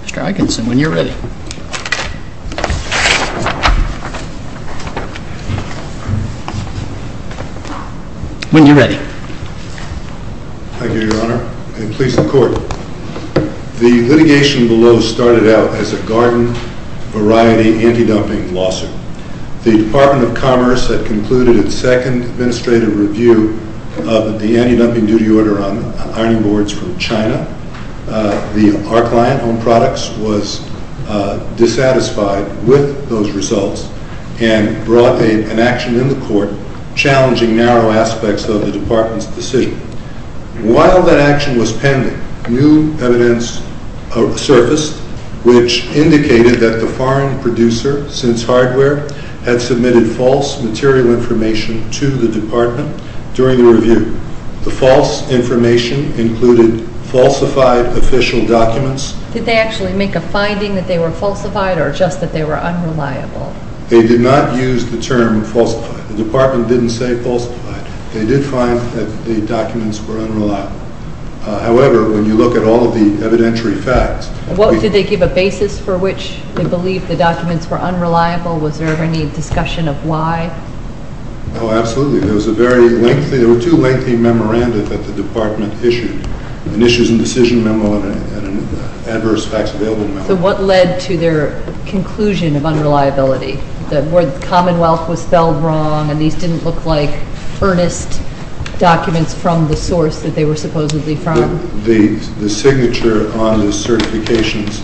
Mr. Atkinson, when you're ready. Thank you, Your Honor, and please, the Court. The litigation below started out as a garden variety anti-dumping lawsuit. The Department of Commerce had concluded its second administrative review of the anti-dumping duty order on ironing boards from China. Our client, HOME PRODUCTS, was dissatisfied with those results and brought an action in the Court challenging narrow aspects of the Department's decision. While that action was pending, new evidence surfaced which indicated that the foreign producer, SINCE HARDWARE, had submitted false material information to the Department during the review. The false information included falsified official documents. Did they actually make a finding that they were falsified or just that they were unreliable? They did not use the term falsified. The Department didn't say falsified. They did find that the documents were unreliable. However, when you look at all of the evidentiary facts... Did they give a basis for which they believed the documents were unreliable? Was there any discussion of why? Oh, absolutely. There was a very lengthy... There were two lengthy memorandums that the Department issued, an issues and decision memo and an adverse facts available memo. So what led to their conclusion of unreliability? The word Commonwealth was spelled wrong and these didn't look like earnest documents from the source that they were supposedly from? The signature on the certifications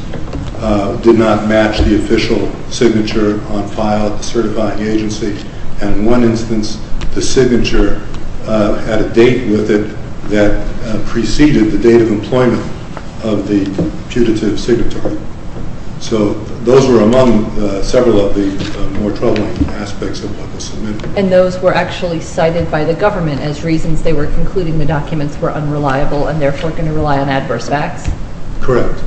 did not match the official signature on file at the certifying agency and in one instance the signature had a date with it that preceded the date of employment of the putative signatory. So those were among several of the more troubling aspects of what was submitted. And those were actually cited by the government as reasons they were concluding the documents were unreliable and therefore going to rely on adverse facts? Correct.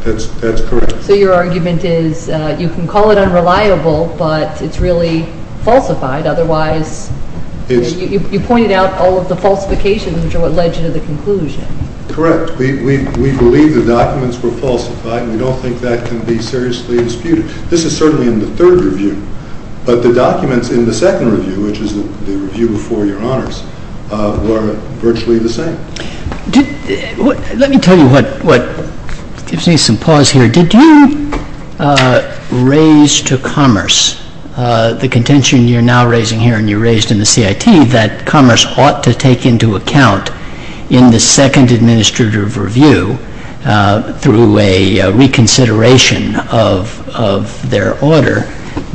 That's correct. So your argument is you can call it unreliable but it's really falsified otherwise... You pointed out all of the falsifications which are what led you to the conclusion. Correct. We believe the documents were falsified and we don't think that can be seriously disputed. This is certainly in the third review, but the documents in the second review, which is the review before your honors, were virtually the same. Let me tell you what gives me some pause here. Did you raise to Commerce the contention you're now raising here and you raised in the CIT that Commerce ought to take into account in the second administrative review through a reconsideration of their order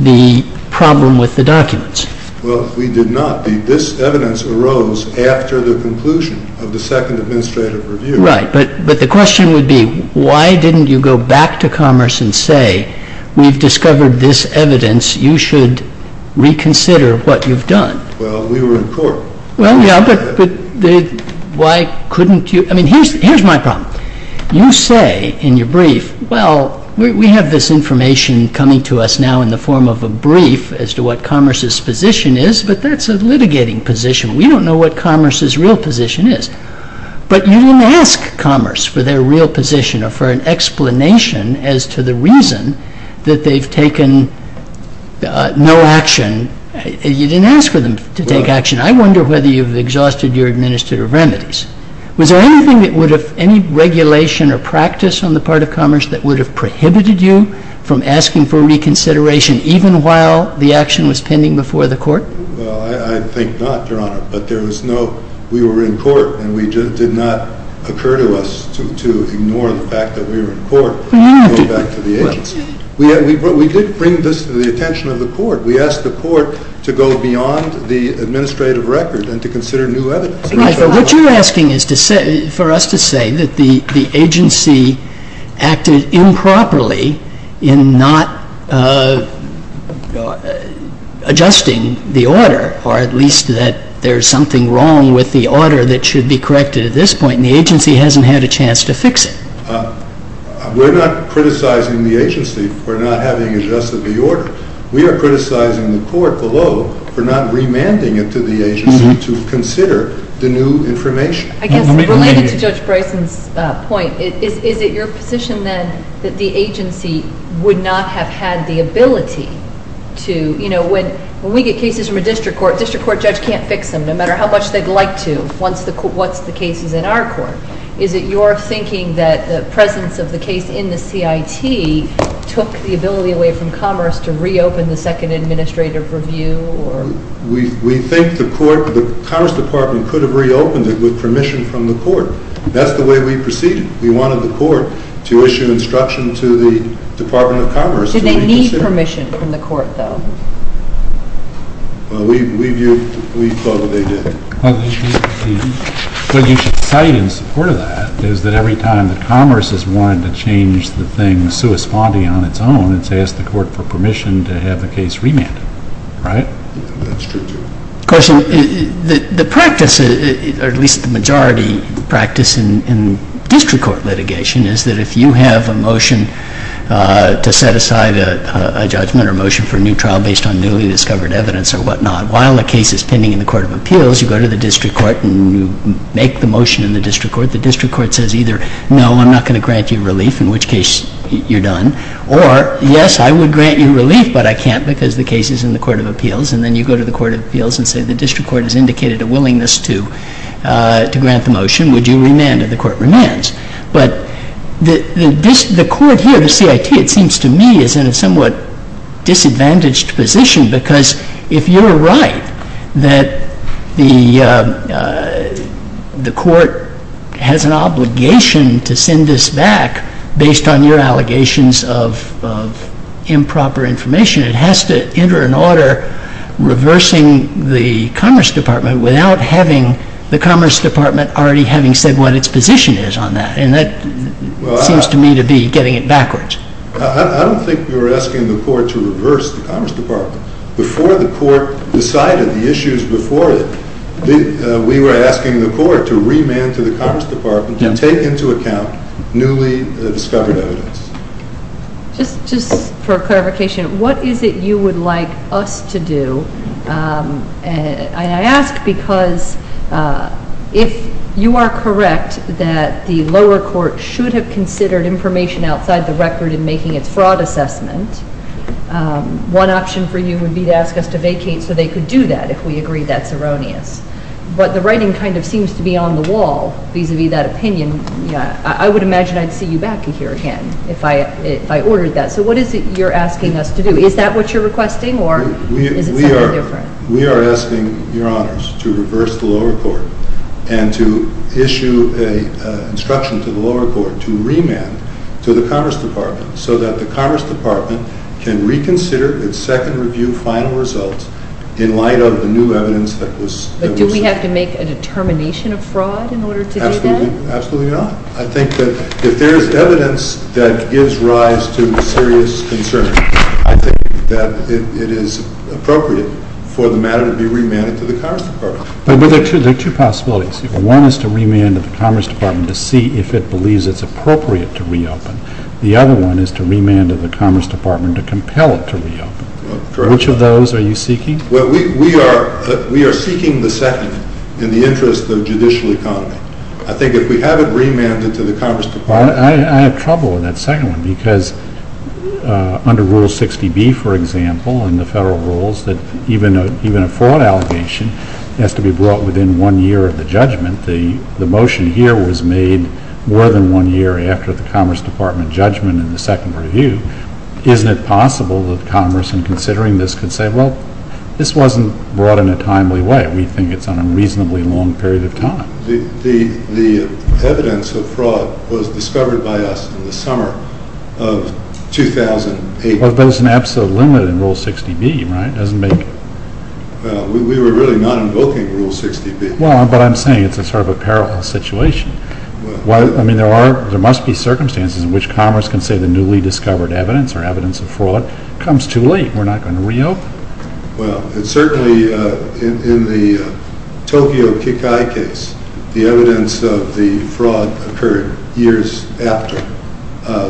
the problem with the documents? Well, we did not. This evidence arose after the conclusion of the second administrative review. Right. But the question would be why didn't you go back to Commerce and say we've discovered this evidence, you should reconsider what you've done? Well, we were in court. Well, yeah, but why couldn't you? I mean, here's my problem. You say in your brief, well, we have this information coming to us now in the form of a brief as to what Commerce's position is, but that's a litigating position. We don't know what Commerce's real position is. But you didn't ask Commerce for their real position or for an explanation as to the reason that they've taken no action. You didn't ask for them to take action. I wonder whether you've exhausted your administrative remedies. Was there anything that would have, any regulation or practice on the part of Commerce that would have prohibited you from asking for reconsideration even while the action was pending before the court? Well, I think not, Your Honor, but there was no, we were in court and it did not occur to us to ignore the fact that we were in court and go back to the agency. We did bring this to the attention of the court. We asked the court to go beyond the administrative record and to consider new evidence. What you're asking is for us to say that the agency acted improperly in not adjusting the order, or at least that there's something wrong with the order that should be corrected at this point and the agency hasn't had a chance to fix it. We're not criticizing the agency for not having adjusted the order. We are criticizing the court below for not remanding it to the agency to consider the new information. I guess related to Judge Bryson's point, is it your position then that the agency would not have had the ability to, you know, when we get cases from a district court, a district court judge can't fix them no matter how much they'd like to once the case is in our court. Is it your thinking that the presence of the case in the CIT took the ability away from commerce to reopen the Second Administrative Review, or... We think the Commerce Department could have reopened it with permission from the court. That's the way we proceeded. We wanted the court to issue instruction to the Department of Commerce. And they need permission from the court though? We thought they did. What you could cite in support of that is that every time that commerce has wanted to respond on its own, it's asked the court for permission to have the case remanded. Right? That's true too. Of course, the practice, or at least the majority practice, in district court litigation is that if you have a motion to set aside a judgment or motion for a new trial based on newly discovered evidence or whatnot, while the case is pending in the Court of Appeals, you go to the district court and you make the motion in the district court. The district court says either no, I'm not going to grant you relief, in which case you're done, or yes, I would grant you relief, but I can't because the case is in the Court of Appeals. And then you go to the Court of Appeals and say the district court has indicated a willingness to grant the motion. Would you remand if the court remands? But the court here, the CIT, it seems to me is in a somewhat disadvantaged position because if you're right that the court has an obligation to send this back based on your allegations of improper information, it has to enter an order reversing the Commerce Department without having the Commerce Department already having said what its position is on that. And that seems to me to be getting it backwards. I don't think you're asking the court to reverse the Commerce Department. Before the court decided the issues before it, we were asking the court to remand to the Commerce Department to take into account newly discovered evidence. Just for clarification, what is it you would like us to do? I ask because if you are correct that the lower court should have considered information outside the record in making its fraud assessment, one option for you would be to ask us to vacate so they could do that if we agree that's erroneous. But the writing kind of seems to be on the wall vis-à-vis that opinion. I would imagine I'd see you back here again if I ordered that. So what is it you're asking us to do? Is that what you're requesting or is it something different? We are asking Your Honors to reverse the lower court and to issue an instruction to the lower to the Commerce Department so that the Commerce Department can reconsider its second review final results in light of the new evidence that was But do we have to make a determination of fraud in order to do that? Absolutely not. I think that if there is evidence that gives rise to serious concern, I think that it is appropriate for the matter to be remanded to the Commerce Department. But there are two possibilities. One is to remand to the Commerce Department to see if it believes it's appropriate to reopen. The other one is to remand to the Commerce Department to compel it to reopen. Which of those are you seeking? We are seeking the second in the interest of judicial economy. I think if we have it remanded to the Commerce Department I have trouble with that second one because under Rule 60B, for example, in the federal rules that even a fraud allegation has to be brought within one year of the judgment. The motion here was made more than one year after the Commerce Department judgment in the second review. Isn't it possible that Commerce, in considering this, could say, well, this wasn't brought in a timely way. We think it's on a reasonably long period of time. The evidence of fraud was discovered by us in the summer of 2008. But there's an absolute limit in Rule 60B, right? We were really not invoking Rule 60B. But I'm saying it's sort of a parallel situation. There must be circumstances in which Commerce can say the newly discovered evidence or evidence of fraud comes too late. We're not going to reopen. Well, certainly in the Tokyo Kikai case, the evidence of the fraud occurred years after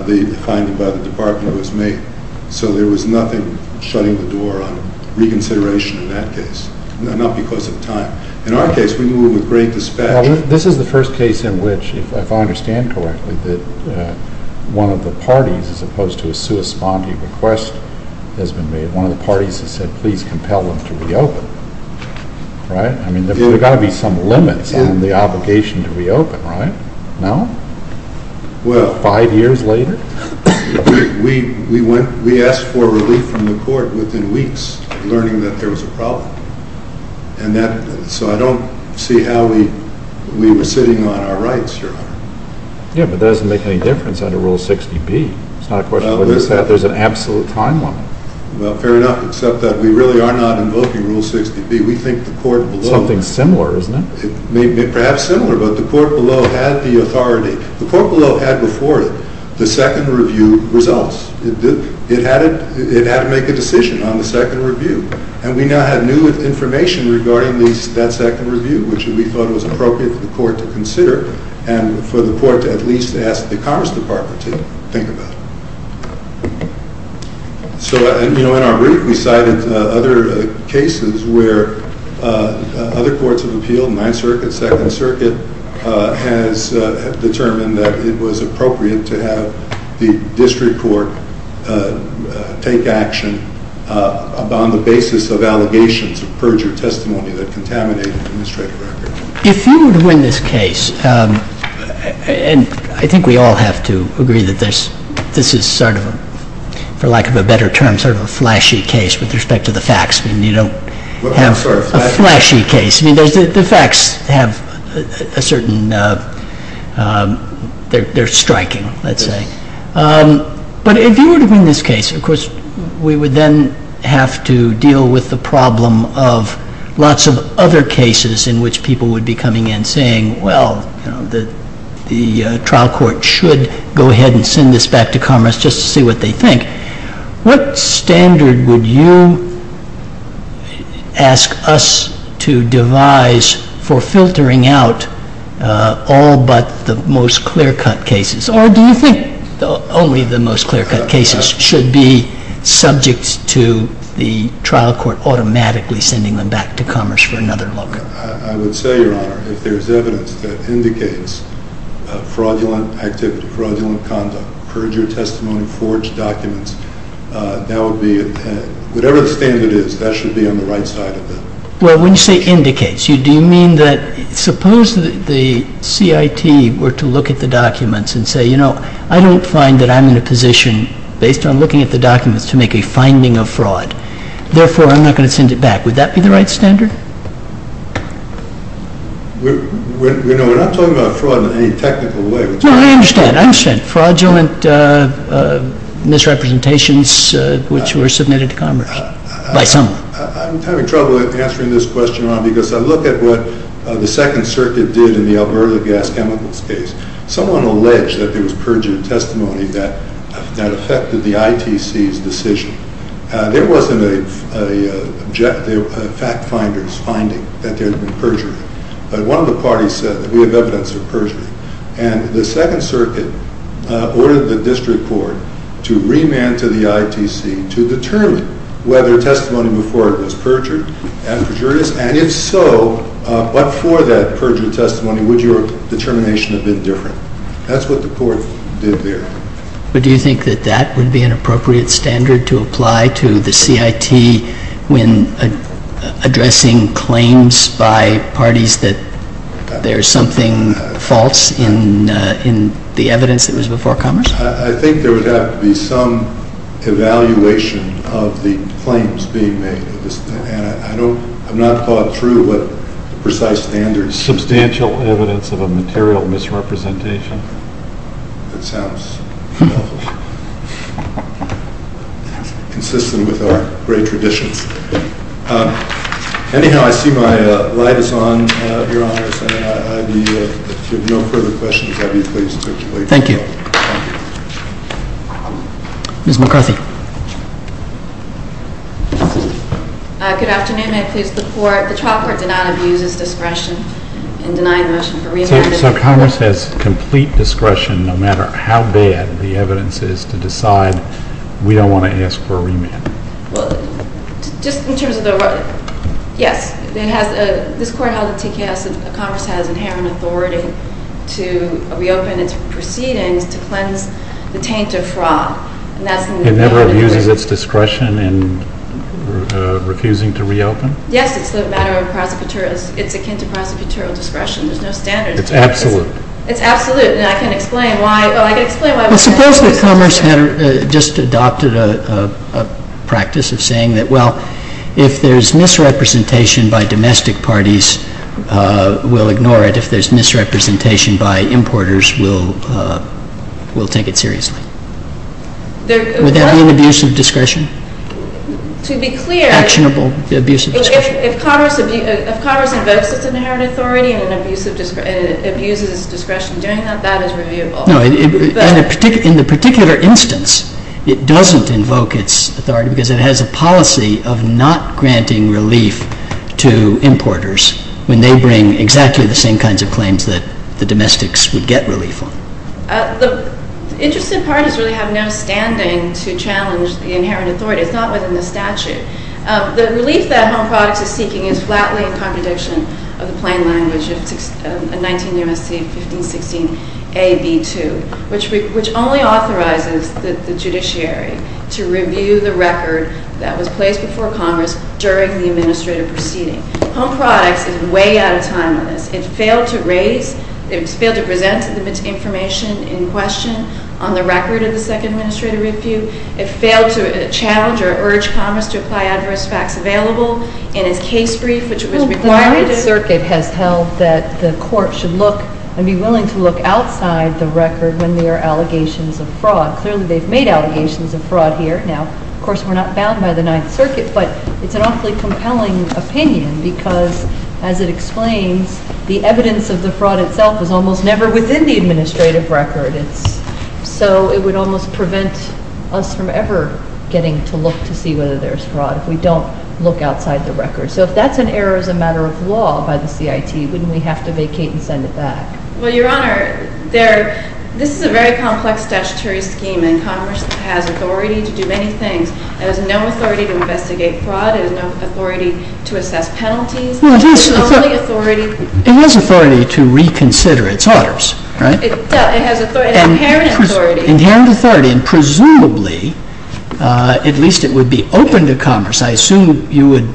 the finding by the Department was made. So there was nothing shutting the door on reconsideration in that case, not because of time. In our case, we move with great dispatch. This is the first case in which, if I understand correctly, that one of the parties, as opposed to a sui spondi request, has been made. One of the parties has said, please compel them to reopen. There's got to be some limits on the obligation to reopen, right? No? Five years later? We asked for relief from the court within weeks of learning that there was a problem. So I don't see how we were sitting on our rights, Your Honor. Yeah, but that doesn't make any difference under Rule 60B. There's an absolute time limit. Well, fair enough, except that we really are not invoking Rule 60B. We think the court below— Something similar, isn't it? Perhaps similar, but the court below had the authority. The court below had before it the second review results. It had to make a decision on the second review. And we now had new information regarding that second review, which we thought was appropriate for the court to consider and for the court to at least ask the Commerce Department to think about. So, you know, in our brief we cited other cases where other courts of appeal, Ninth Circuit, Second Circuit, has determined that it was appropriate to have the district court take action upon the basis of allegations of perjure testimony that contaminated the administrative record. If you would win this case, and I think we all have to agree that this is sort of, for lack of a better term, sort of a flashy case with respect to the facts. I mean, you don't have a flashy case. I mean, the facts have a certain—they're striking, let's say. But if you would win this case, of course, we would then have to deal with the problem of lots of other cases in which people would be coming in saying, well, you know, the trial court should go ahead and send this back to Commerce just to see what they think. What standard would you ask us to devise for filtering out all but the most clear-cut cases? Or do you think only the most clear-cut cases should be subject to the trial court without automatically sending them back to Commerce for another look? I would say, Your Honor, if there's evidence that indicates fraudulent activity, fraudulent conduct, perjure testimony, forged documents, that would be—whatever the standard is, that should be on the right side of that. Well, when you say indicates, do you mean that— suppose the CIT were to look at the documents and say, you know, I don't find that I'm in a position, based on looking at the documents, to make a finding of fraud. Therefore, I'm not going to send it back. Would that be the right standard? You know, we're not talking about fraud in any technical way. No, I understand. I understand. Fraudulent misrepresentations which were submitted to Commerce by someone. I'm having trouble answering this question, Your Honor, because I look at what the Second Circuit did in the Alberta Gas Chemicals case. Someone alleged that there was perjured testimony that affected the ITC's decision. There wasn't a fact finder's finding that there had been perjury. But one of the parties said that we have evidence of perjury. And the Second Circuit ordered the district court to remand to the ITC to determine whether testimony before it was perjured and perjurious. And if so, but for that perjured testimony, would your determination have been different? That's what the court did there. But do you think that that would be an appropriate standard to apply to the CIT when addressing claims by parties that there's something false in the evidence that was before Commerce? I think there would have to be some evaluation of the claims being made. And I don't, I've not thought through what the precise standard is. Substantial evidence of a material misrepresentation. That sounds consistent with our great traditions. Anyhow, I see my light is on, Your Honor. If you have no further questions, I'd be pleased to circulate. Thank you. Ms. McCarthy. Good afternoon. May I please report? The trial court did not abuse its discretion in denying the motion for remand. So Commerce has complete discretion no matter how bad the evidence is to decide we don't want to ask for a remand? Well, just in terms of the, yes. It has, this court held at TKS that Commerce has inherent authority to reopen its proceedings to cleanse the taint of fraud. It never abuses its discretion in refusing to reopen? Yes, it's the matter of prosecutorial, it's akin to prosecutorial discretion. There's no standard. It's absolute. It's absolute. And I can explain why, oh, I can explain why. Suppose that Commerce had just adopted a practice of saying that, well, if there's misrepresentation by domestic parties, we'll ignore it. If there's misrepresentation by importers, we'll take it seriously. Would that be an abuse of discretion? To be clear. Actionable abuse of discretion. If Commerce invokes its inherent authority and abuses its discretion in doing that, that is reviewable. No, in the particular instance, it doesn't invoke its authority because it has a policy of not granting relief to importers when they bring exactly the same kinds of claims that the domestics would get relief on. The interested parties really have no standing to challenge the inherent authority. It's not within the statute. The relief that Home Products is seeking is flatly in contradiction of the plain language of 19 U.S.C. 1516a.b.2, which only authorizes the judiciary to review the record that was placed before Congress during the administrative proceeding. Home Products is way out of time on this. It failed to raise, it failed to present to them its information in question on the record of the second administrative review. It failed to challenge or urge Commerce to apply adverse facts available in its case brief, which was required. The Ninth Circuit has held that the court should look and be willing to look outside the record when there are allegations of fraud. Clearly, they've made allegations of fraud here. Now, of course, we're not bound by the Ninth Circuit, but it's an awfully compelling opinion because, as it explains, the evidence of the fraud itself is almost never within the administrative record. So it would almost prevent us from ever getting to look to see whether there's fraud if we don't look outside the record. So if that's an error as a matter of law by the CIT, wouldn't we have to vacate and send it back? Well, Your Honor, this is a very complex statutory scheme, and Congress has authority to do many things. It has no authority to investigate fraud. It has no authority to assess penalties. It has authority to reconsider its orders, right? It does. It has inherent authority. Inherent authority, and presumably, at least it would be open to Commerce. I assume you would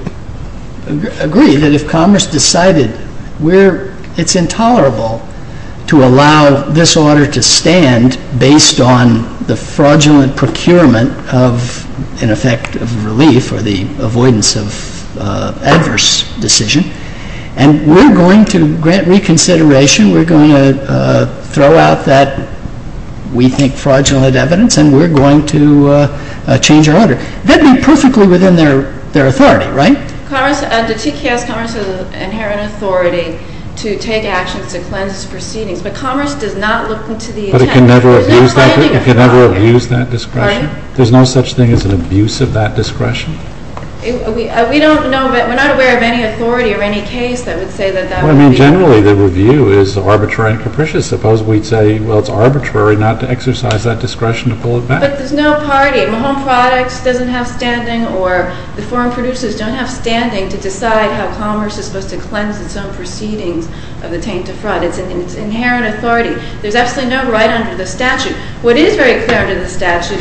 agree that if Commerce decided it's intolerable to allow this order to stand based on the fraudulent procurement of, in effect, of relief or the avoidance of adverse decision, and we're going to grant reconsideration. We're going to throw out that we think fraudulent evidence, and we're going to change our order. That would be perfectly within their authority, right? Commerce, under TKS, Commerce has inherent authority to take actions to cleanse proceedings. But Commerce does not look into the intent. But it can never abuse that discretion? There's no such thing as an abuse of that discretion? We don't know, but we're not aware of any authority or any case that would say that that would be. Well, I mean, generally, the review is arbitrary and capricious. Suppose we'd say, well, it's arbitrary not to exercise that discretion to pull it back. But there's no party. Mahone Products doesn't have standing or the foreign producers don't have standing to decide how Commerce is supposed to cleanse its own proceedings of the taint of fraud. It's inherent authority. There's absolutely no right under the statute. What is the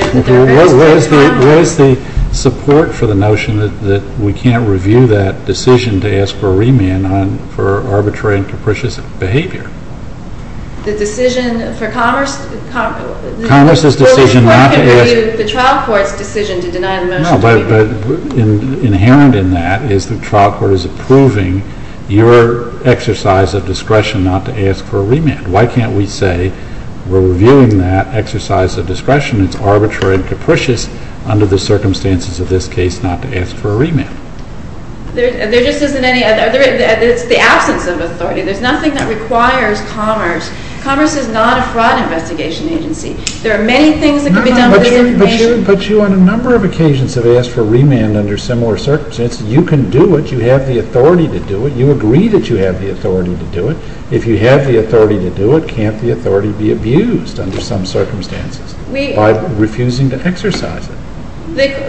support for the notion that we can't review that decision to ask for a remand for arbitrary and capricious behavior? The decision for Commerce? Commerce's decision not to ask? The trial court's decision to deny the motion. No, but inherent in that is the trial court is approving your exercise of discretion not to ask for a remand. Why can't we say we're reviewing that exercise of discretion that's arbitrary and capricious under the circumstances of this case not to ask for a remand? There just isn't any other. It's the absence of authority. There's nothing that requires Commerce. Commerce is not a fraud investigation agency. There are many things that can be done with this information. But you, on a number of occasions, have asked for a remand under similar circumstances. You can do it. You have the authority to do it. You agree that you have the authority to do it. If you have the authority to do it, can't the authority be abused under some circumstances by refusing to exercise it?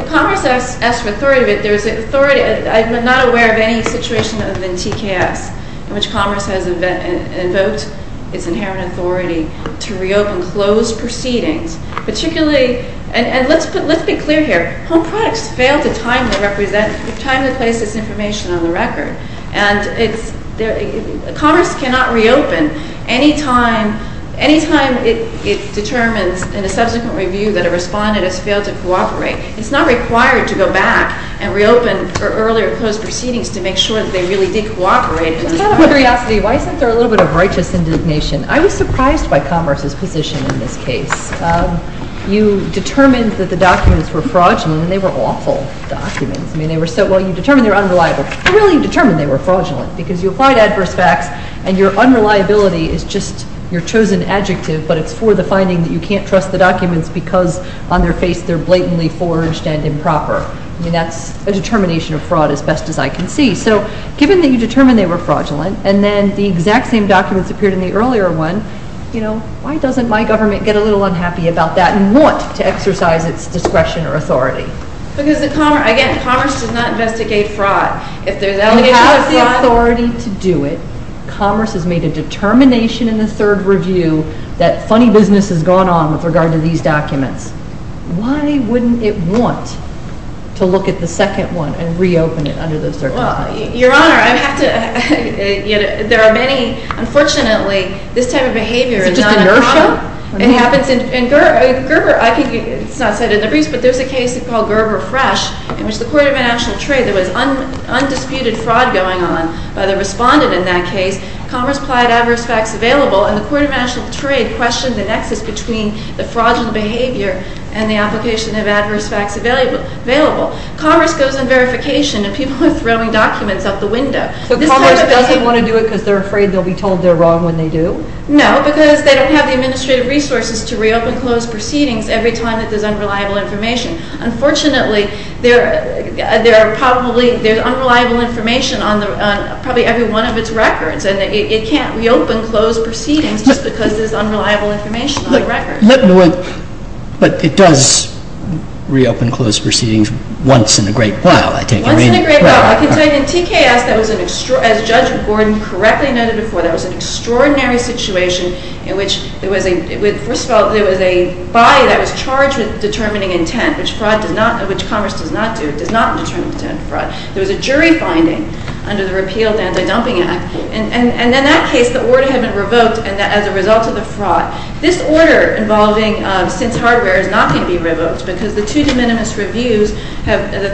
Commerce has asked for authority. I'm not aware of any situation other than TKS in which Commerce has invoked its inherent authority to reopen closed proceedings. And let's be clear here. Home products fail to timely place this information on the record. And Commerce cannot reopen any time it determines in a subsequent review that a respondent has failed to cooperate. It's not required to go back and reopen earlier closed proceedings to make sure that they really did cooperate. Just out of curiosity, why isn't there a little bit of righteous indignation? I was surprised by Commerce's position in this case. You determined that the documents were fraudulent, and they were awful documents. Well, you determined they were unreliable. But really, you determined they were fraudulent because you applied adverse facts, and your unreliability is just your chosen adjective, but it's for the finding that you can't trust the documents because on their face they're blatantly forged and improper. I mean, that's a determination of fraud as best as I can see. So given that you determined they were fraudulent, and then the exact same documents appeared in the earlier one, why doesn't my government get a little unhappy about that and want to exercise its discretion or authority? Because, again, Commerce does not investigate fraud. If there's allegations of fraud... It has the authority to do it. Commerce has made a determination in the third review that funny business has gone on with regard to these documents. Why wouldn't it want to look at the second one and reopen it under those circumstances? Well, Your Honor, I have to – there are many – unfortunately, this type of behavior is not uncommon. It's just inertia? No, it happens in Gerber. It's not said in the briefs, but there's a case called Gerber Fresh in which the Court of International Trade, there was undisputed fraud going on by the respondent in that case. Commerce applied adverse facts available, and the Court of International Trade questioned the nexus between the fraudulent behavior and the application of adverse facts available. Commerce goes on verification, and people are throwing documents out the window. So Commerce doesn't want to do it because they're afraid they'll be told they're wrong when they do? No, because they don't have the administrative resources to reopen closed proceedings every time that there's unreliable information. Unfortunately, there are probably – there's unreliable information on probably every one of its records, and it can't reopen closed proceedings just because there's unreliable information on the record. But it does reopen closed proceedings once in a great while, I take it? Once in a great while. I can tell you in TKS, as Judge Gordon correctly noted before, that was an extraordinary situation in which it was a – first of all, there was a body that was charged with determining intent, which Commerce does not do. It does not determine intent of fraud. There was a jury finding under the Repealed Anti-Dumping Act, and in that case, the order had been revoked as a result of the fraud. This order involving since hardware is not going to be revoked because the two de minimis reviews have – the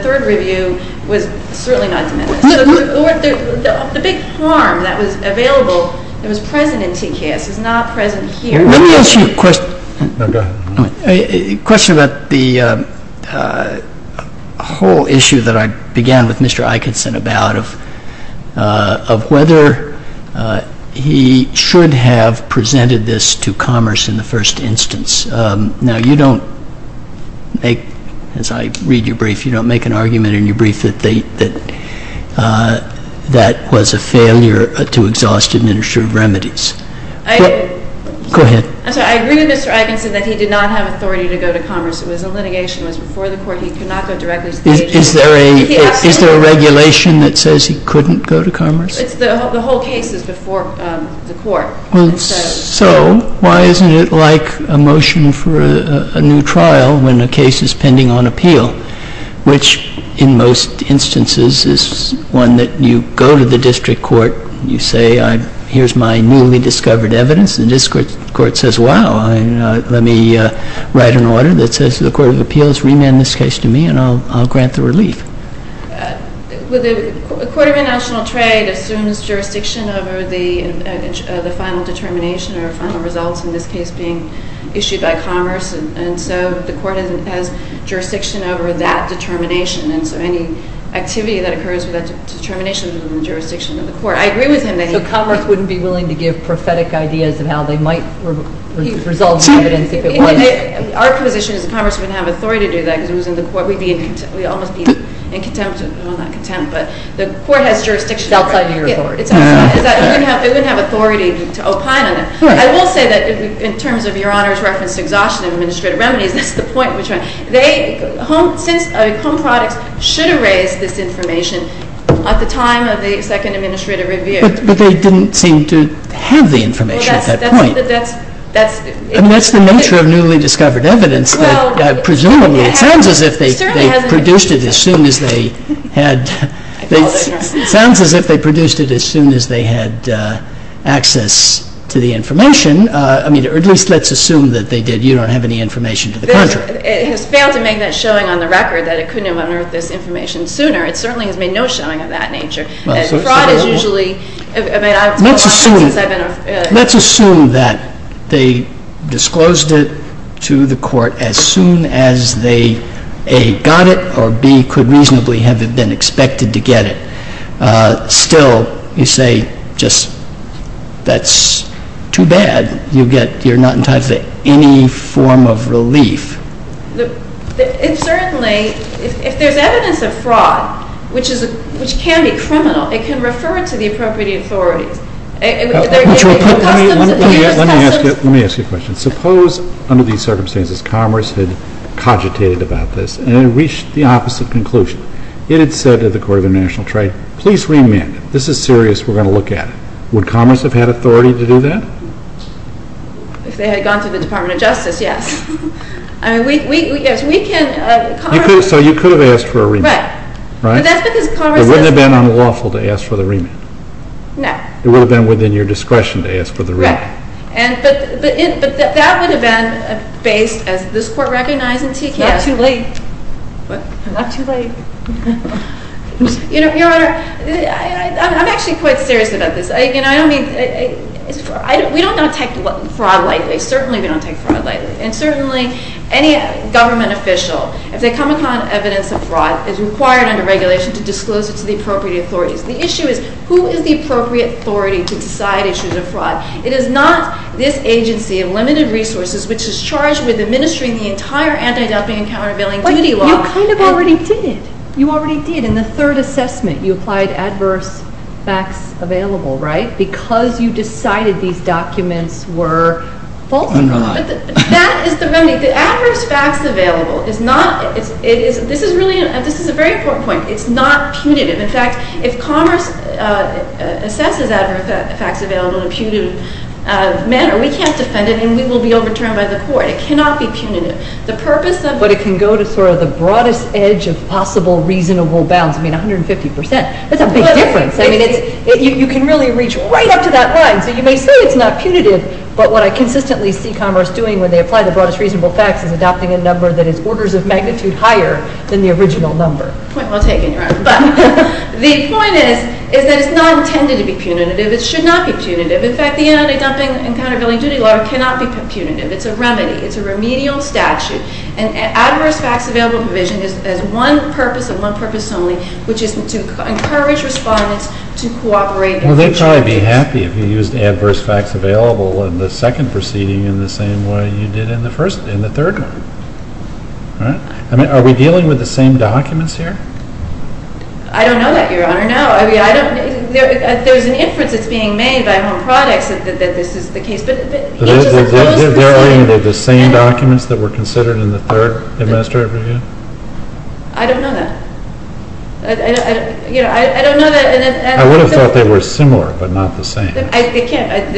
big harm that was available that was present in TKS is not present here. Let me ask you a question. No, go ahead. A question about the whole issue that I began with Mr. Eikenson about, of whether he should have presented this to Commerce in the first instance. Now, you don't make – as I read your brief, you don't make an argument in your brief that they – that that was a failure to exhaust administrative remedies. I – Go ahead. I'm sorry. I agree with Mr. Eikenson that he did not have authority to go to Commerce. It was a litigation. It was before the court. He could not go directly to the agency. Is there a regulation that says he couldn't go to Commerce? The whole case is before the court. Well, so why isn't it like a motion for a new trial when the case is pending on appeal, which in most instances is one that you go to the district court, you say, here's my newly discovered evidence, and the district court says, wow, let me write an order that says the Court of Appeals remand this case to me and I'll grant the relief. Well, the Court of International Trade assumes jurisdiction over the final determination or final results in this case being issued by Commerce, and so the court has jurisdiction over that determination, and so any activity that occurs with that determination is within the jurisdiction of the court. I agree with him that he – So Commerce wouldn't be willing to give prophetic ideas of how they might resolve the evidence if it was – Our position is that Commerce wouldn't have authority to do that because it was in the court. We'd be – we'd almost be in contempt – well, not contempt, but the court has jurisdiction over it. It's outside of your authority. It wouldn't have authority to opine on it. I will say that in terms of Your Honor's reference to exhaustion of administrative remedies, that's the point in which they – since Home Products should have raised this information at the time of the second administrative review. But they didn't seem to have the information at that point. Well, that's – I mean, that's the nature of newly discovered evidence. Well – Presumably. It sounds as if they produced it as soon as they had – Sounds as if they produced it as soon as they had access to the information. I mean, or at least let's assume that they did. You don't have any information to the contrary. It has failed to make that showing on the record that it couldn't have unearthed this information sooner. It certainly has made no showing of that nature. Well, so – Fraud is usually – I mean, it's been a long time since I've been – Let's assume that they disclosed it to the Court as soon as they A, got it, or B, could reasonably have been expected to get it. Still, you say just that's too bad. You get – you're not entitled to any form of relief. It certainly – if there's evidence of fraud, which can be criminal, it can refer to the appropriate authorities. Let me ask you a question. Suppose, under these circumstances, Commerce had cogitated about this and reached the opposite conclusion. It had said to the Court of International Trade, please remand it. This is serious. We're going to look at it. Would Commerce have had authority to do that? If they had gone to the Department of Justice, yes. I mean, yes, we can – So you could have asked for a remand. But that's because Commerce doesn't – It wouldn't have been unlawful to ask for the remand. No. It would have been within your discretion to ask for the remand. Right. But that would have been based, as this Court recognizes, in TKS. It's not too late. What? Not too late. Your Honor, I'm actually quite serious about this. I don't mean – we don't take fraud lightly. Certainly, we don't take fraud lightly. And certainly, any government official, if they come upon evidence of fraud, is required under regulation to disclose it to the appropriate authorities. The issue is, who is the appropriate authority to decide issues of fraud? It is not this agency of limited resources, which is charged with administering the entire anti-dumping and countervailing duty law. But you kind of already did. You already did. In the third assessment, you applied adverse facts available, right? Because you decided these documents were false. Underline. That is the remedy. The adverse facts available is not – This is a very important point. It's not punitive. In fact, if Commerce assesses adverse facts available in a punitive manner, we can't defend it and we will be overturned by the court. It cannot be punitive. The purpose of – But it can go to sort of the broadest edge of possible reasonable bounds. I mean, 150 percent. That's a big difference. I mean, you can really reach right up to that line. So you may say it's not punitive, but what I consistently see Commerce doing when they apply the broadest reasonable facts is adopting a number that is orders of magnitude higher than the original number. Point well taken, Your Honor. But the point is that it's not intended to be punitive. It should not be punitive. In fact, the anti-dumping and countervailing duty law cannot be punitive. It's a remedy. It's a remedial statute. And adverse facts available provision has one purpose and one purpose only, which is to encourage respondents to cooperate. Well, they'd probably be happy if you used adverse facts available in the second proceeding in the same way you did in the third one. All right. Are we dealing with the same documents here? I don't know that, Your Honor. No. I mean, there's an inference that's being made by Home Products that this is the case. But the edges are closed. Are they the same documents that were considered in the third administrative review? I don't know that. I don't know that. I would have thought they were similar but not the same. They're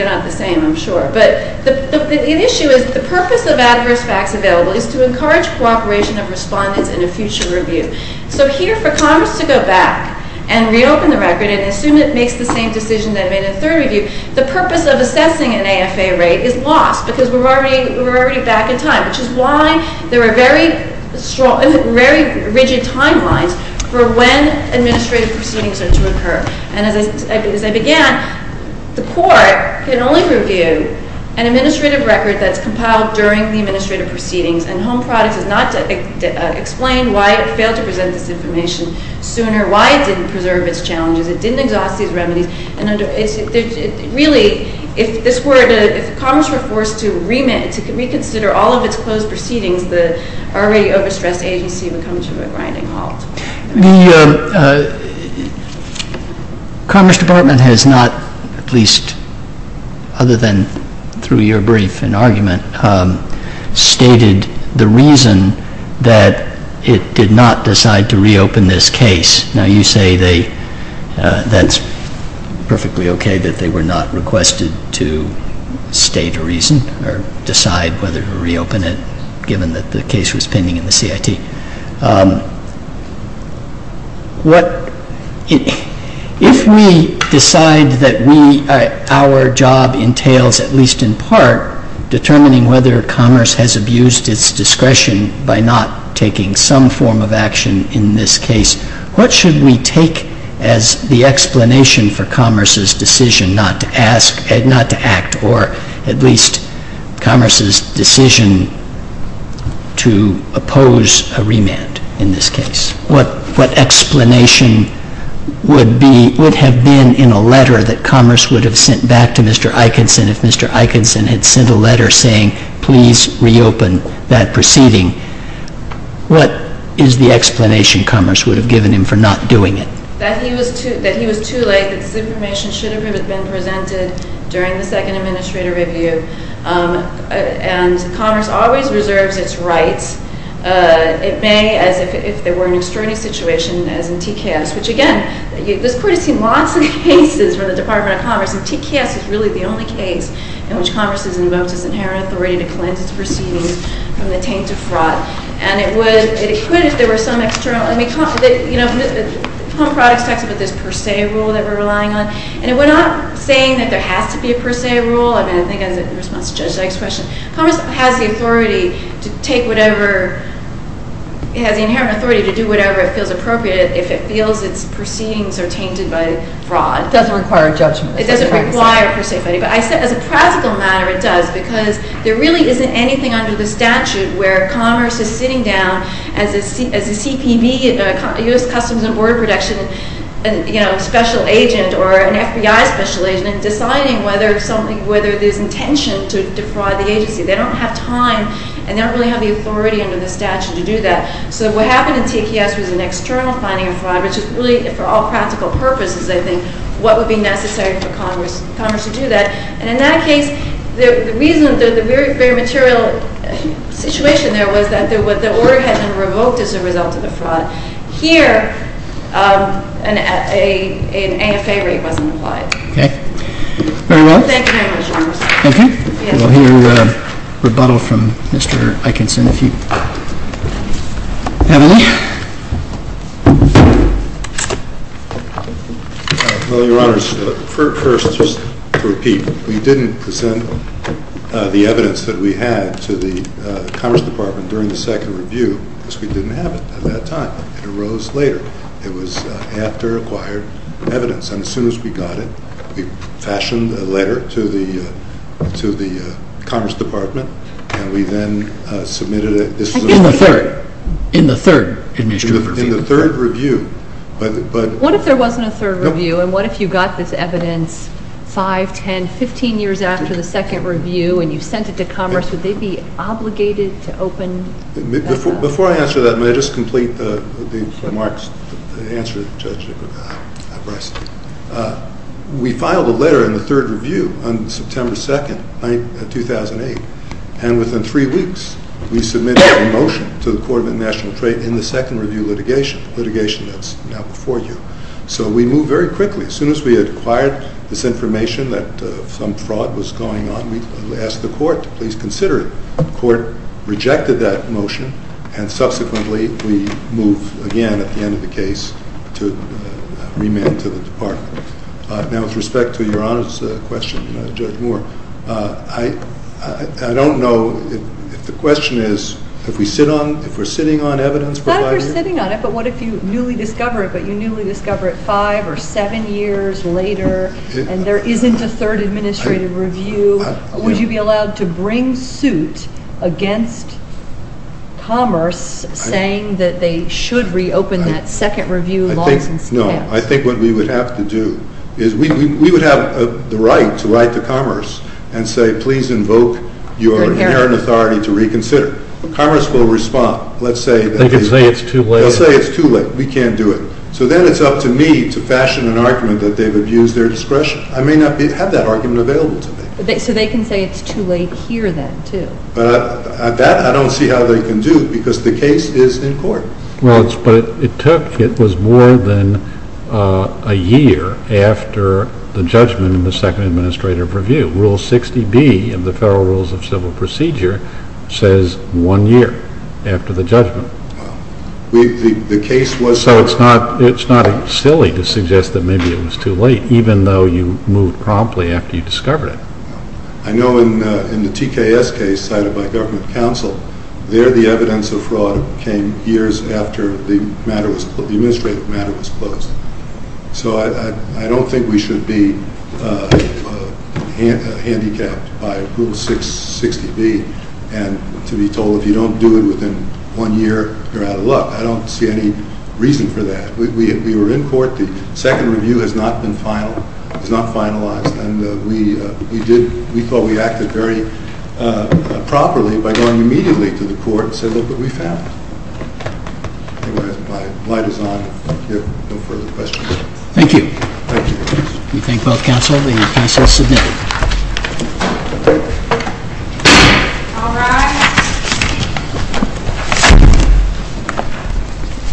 not the same, I'm sure. But the issue is the purpose of adverse facts available is to encourage cooperation of respondents in a future review. So here for Congress to go back and reopen the record and assume it makes the same decision that it made in the third review, the purpose of assessing an AFA rate is lost because we're already back in time, which is why there are very rigid timelines for when administrative proceedings are to occur. And as I began, the court can only review an administrative record that's compiled during the administrative proceedings, and Home Products is not to explain why it failed to present this information sooner, why it didn't preserve its challenges, it didn't exhaust these remedies. Really, if Congress were forced to reconsider all of its closed proceedings, the already overstressed agency would come to a grinding halt. The Commerce Department has not, at least other than through your brief and argument, stated the reason that it did not decide to reopen this case. Now you say that's perfectly okay that they were not requested to state a reason or decide whether to reopen it given that the case was pending in the CIT. If we decide that our job entails, at least in part, determining whether Commerce has abused its discretion by not taking some form of action in this case, what should we take as the explanation for Commerce's decision not to act, or at least Commerce's decision to oppose a remand in this case? What explanation would have been in a letter that Commerce would have sent back to Mr. Eikenson if Mr. Eikenson had sent a letter saying, please reopen that proceeding? What is the explanation Commerce would have given him for not doing it? That he was too late, that this information should have been presented during the second administrator review. And Commerce always reserves its rights. It may, as if there were an extraordinary situation as in TKS, which again, this Court has seen lots of cases from the Department of Commerce, and TKS is really the only case in which Commerce has invoked its inherent authority to cleanse its proceedings from the taint of fraud. And it would, it could if there were some external, I mean, you know, Home Products talks about this per se rule that we're relying on, and we're not saying that there has to be a per se rule. I mean, I think as a response to Judge Dyke's question, Commerce has the authority to take whatever, it has the inherent authority to do whatever it feels appropriate if it feels its proceedings are tainted by fraud. It doesn't require a judgment. It doesn't require per se. But as a practical matter, it does, because there really isn't anything under the statute where Commerce is sitting down as a CPB, a U.S. Customs and Border Protection, you know, special agent, or an FBI special agent and deciding whether something, whether there's intention to defraud the agency. They don't have time, and they don't really have the authority under the statute to do that. So what happened in TKS was an external finding of fraud, which is really for all practical purposes, I think, what would be necessary for Commerce to do that. And in that case, the reason, the very material situation there was that the order had been revoked as a result of the fraud. Here, an AFA rate wasn't applied. Okay. Very well. Thank you very much, Your Honor. Thank you. We'll hear rebuttal from Mr. Eikenson if you have any. Well, Your Honors, first, just to repeat, we didn't present the evidence that we had to the Commerce Department during the second review, because we didn't have it at that time. It arose later. It was after acquired evidence. And as soon as we got it, we fashioned a letter to the Commerce Department, and we then submitted it. In the third? In the third administrative review. In the third review. What if there wasn't a third review, and what if you got this evidence 5, 10, 15 years after the second review, and you sent it to Commerce? Would they be obligated to open that up? Before I answer that, may I just complete the remarks and answer Judge Brice? We filed a letter in the third review on September 2, 2008, and within three weeks we submitted a motion to the Court of International Trade in the second review litigation, litigation that's now before you. So we moved very quickly. As soon as we had acquired this information that some fraud was going on, we asked the Court to please consider it. The Court rejected that motion, and subsequently we moved again at the end of the case to remand to the Department. Now, with respect to Your Honors' question, Judge Moore, I don't know if the question is, if we're sitting on evidence provided? Not if we're sitting on it, but what if you newly discover it, but you newly discover it 5 or 7 years later, and there isn't a third administrative review, would you be allowed to bring suit against Commerce saying that they should reopen that second review? No, I think what we would have to do is we would have the right to write to Commerce and say, please invoke your inherent authority to reconsider. Commerce will respond. They can say it's too late. They'll say it's too late. We can't do it. So then it's up to me to fashion an argument that they've abused their discretion. I may not have that argument available to me. So they can say it's too late here then, too. That, I don't see how they can do, because the case is in court. Well, but it took, it was more than a year after the judgment in the second administrative review. Rule 60B of the Federal Rules of Civil Procedure says one year after the judgment. So it's not silly to suggest that maybe it was too late, even though you moved promptly after you discovered it. I know in the TKS case cited by government counsel, there the evidence of fraud came years after the administrative matter was closed. So I don't think we should be handicapped by Rule 660B and to be told if you don't do it within one year, you're out of luck. I don't see any reason for that. We were in court. The second review has not been finalized. And we did, we thought we acted very properly by going immediately to the court and said, look what we found. I think my light is on. If there are no further questions. Thank you. Thank you. We thank both counsel and counsel is submitted. All rise.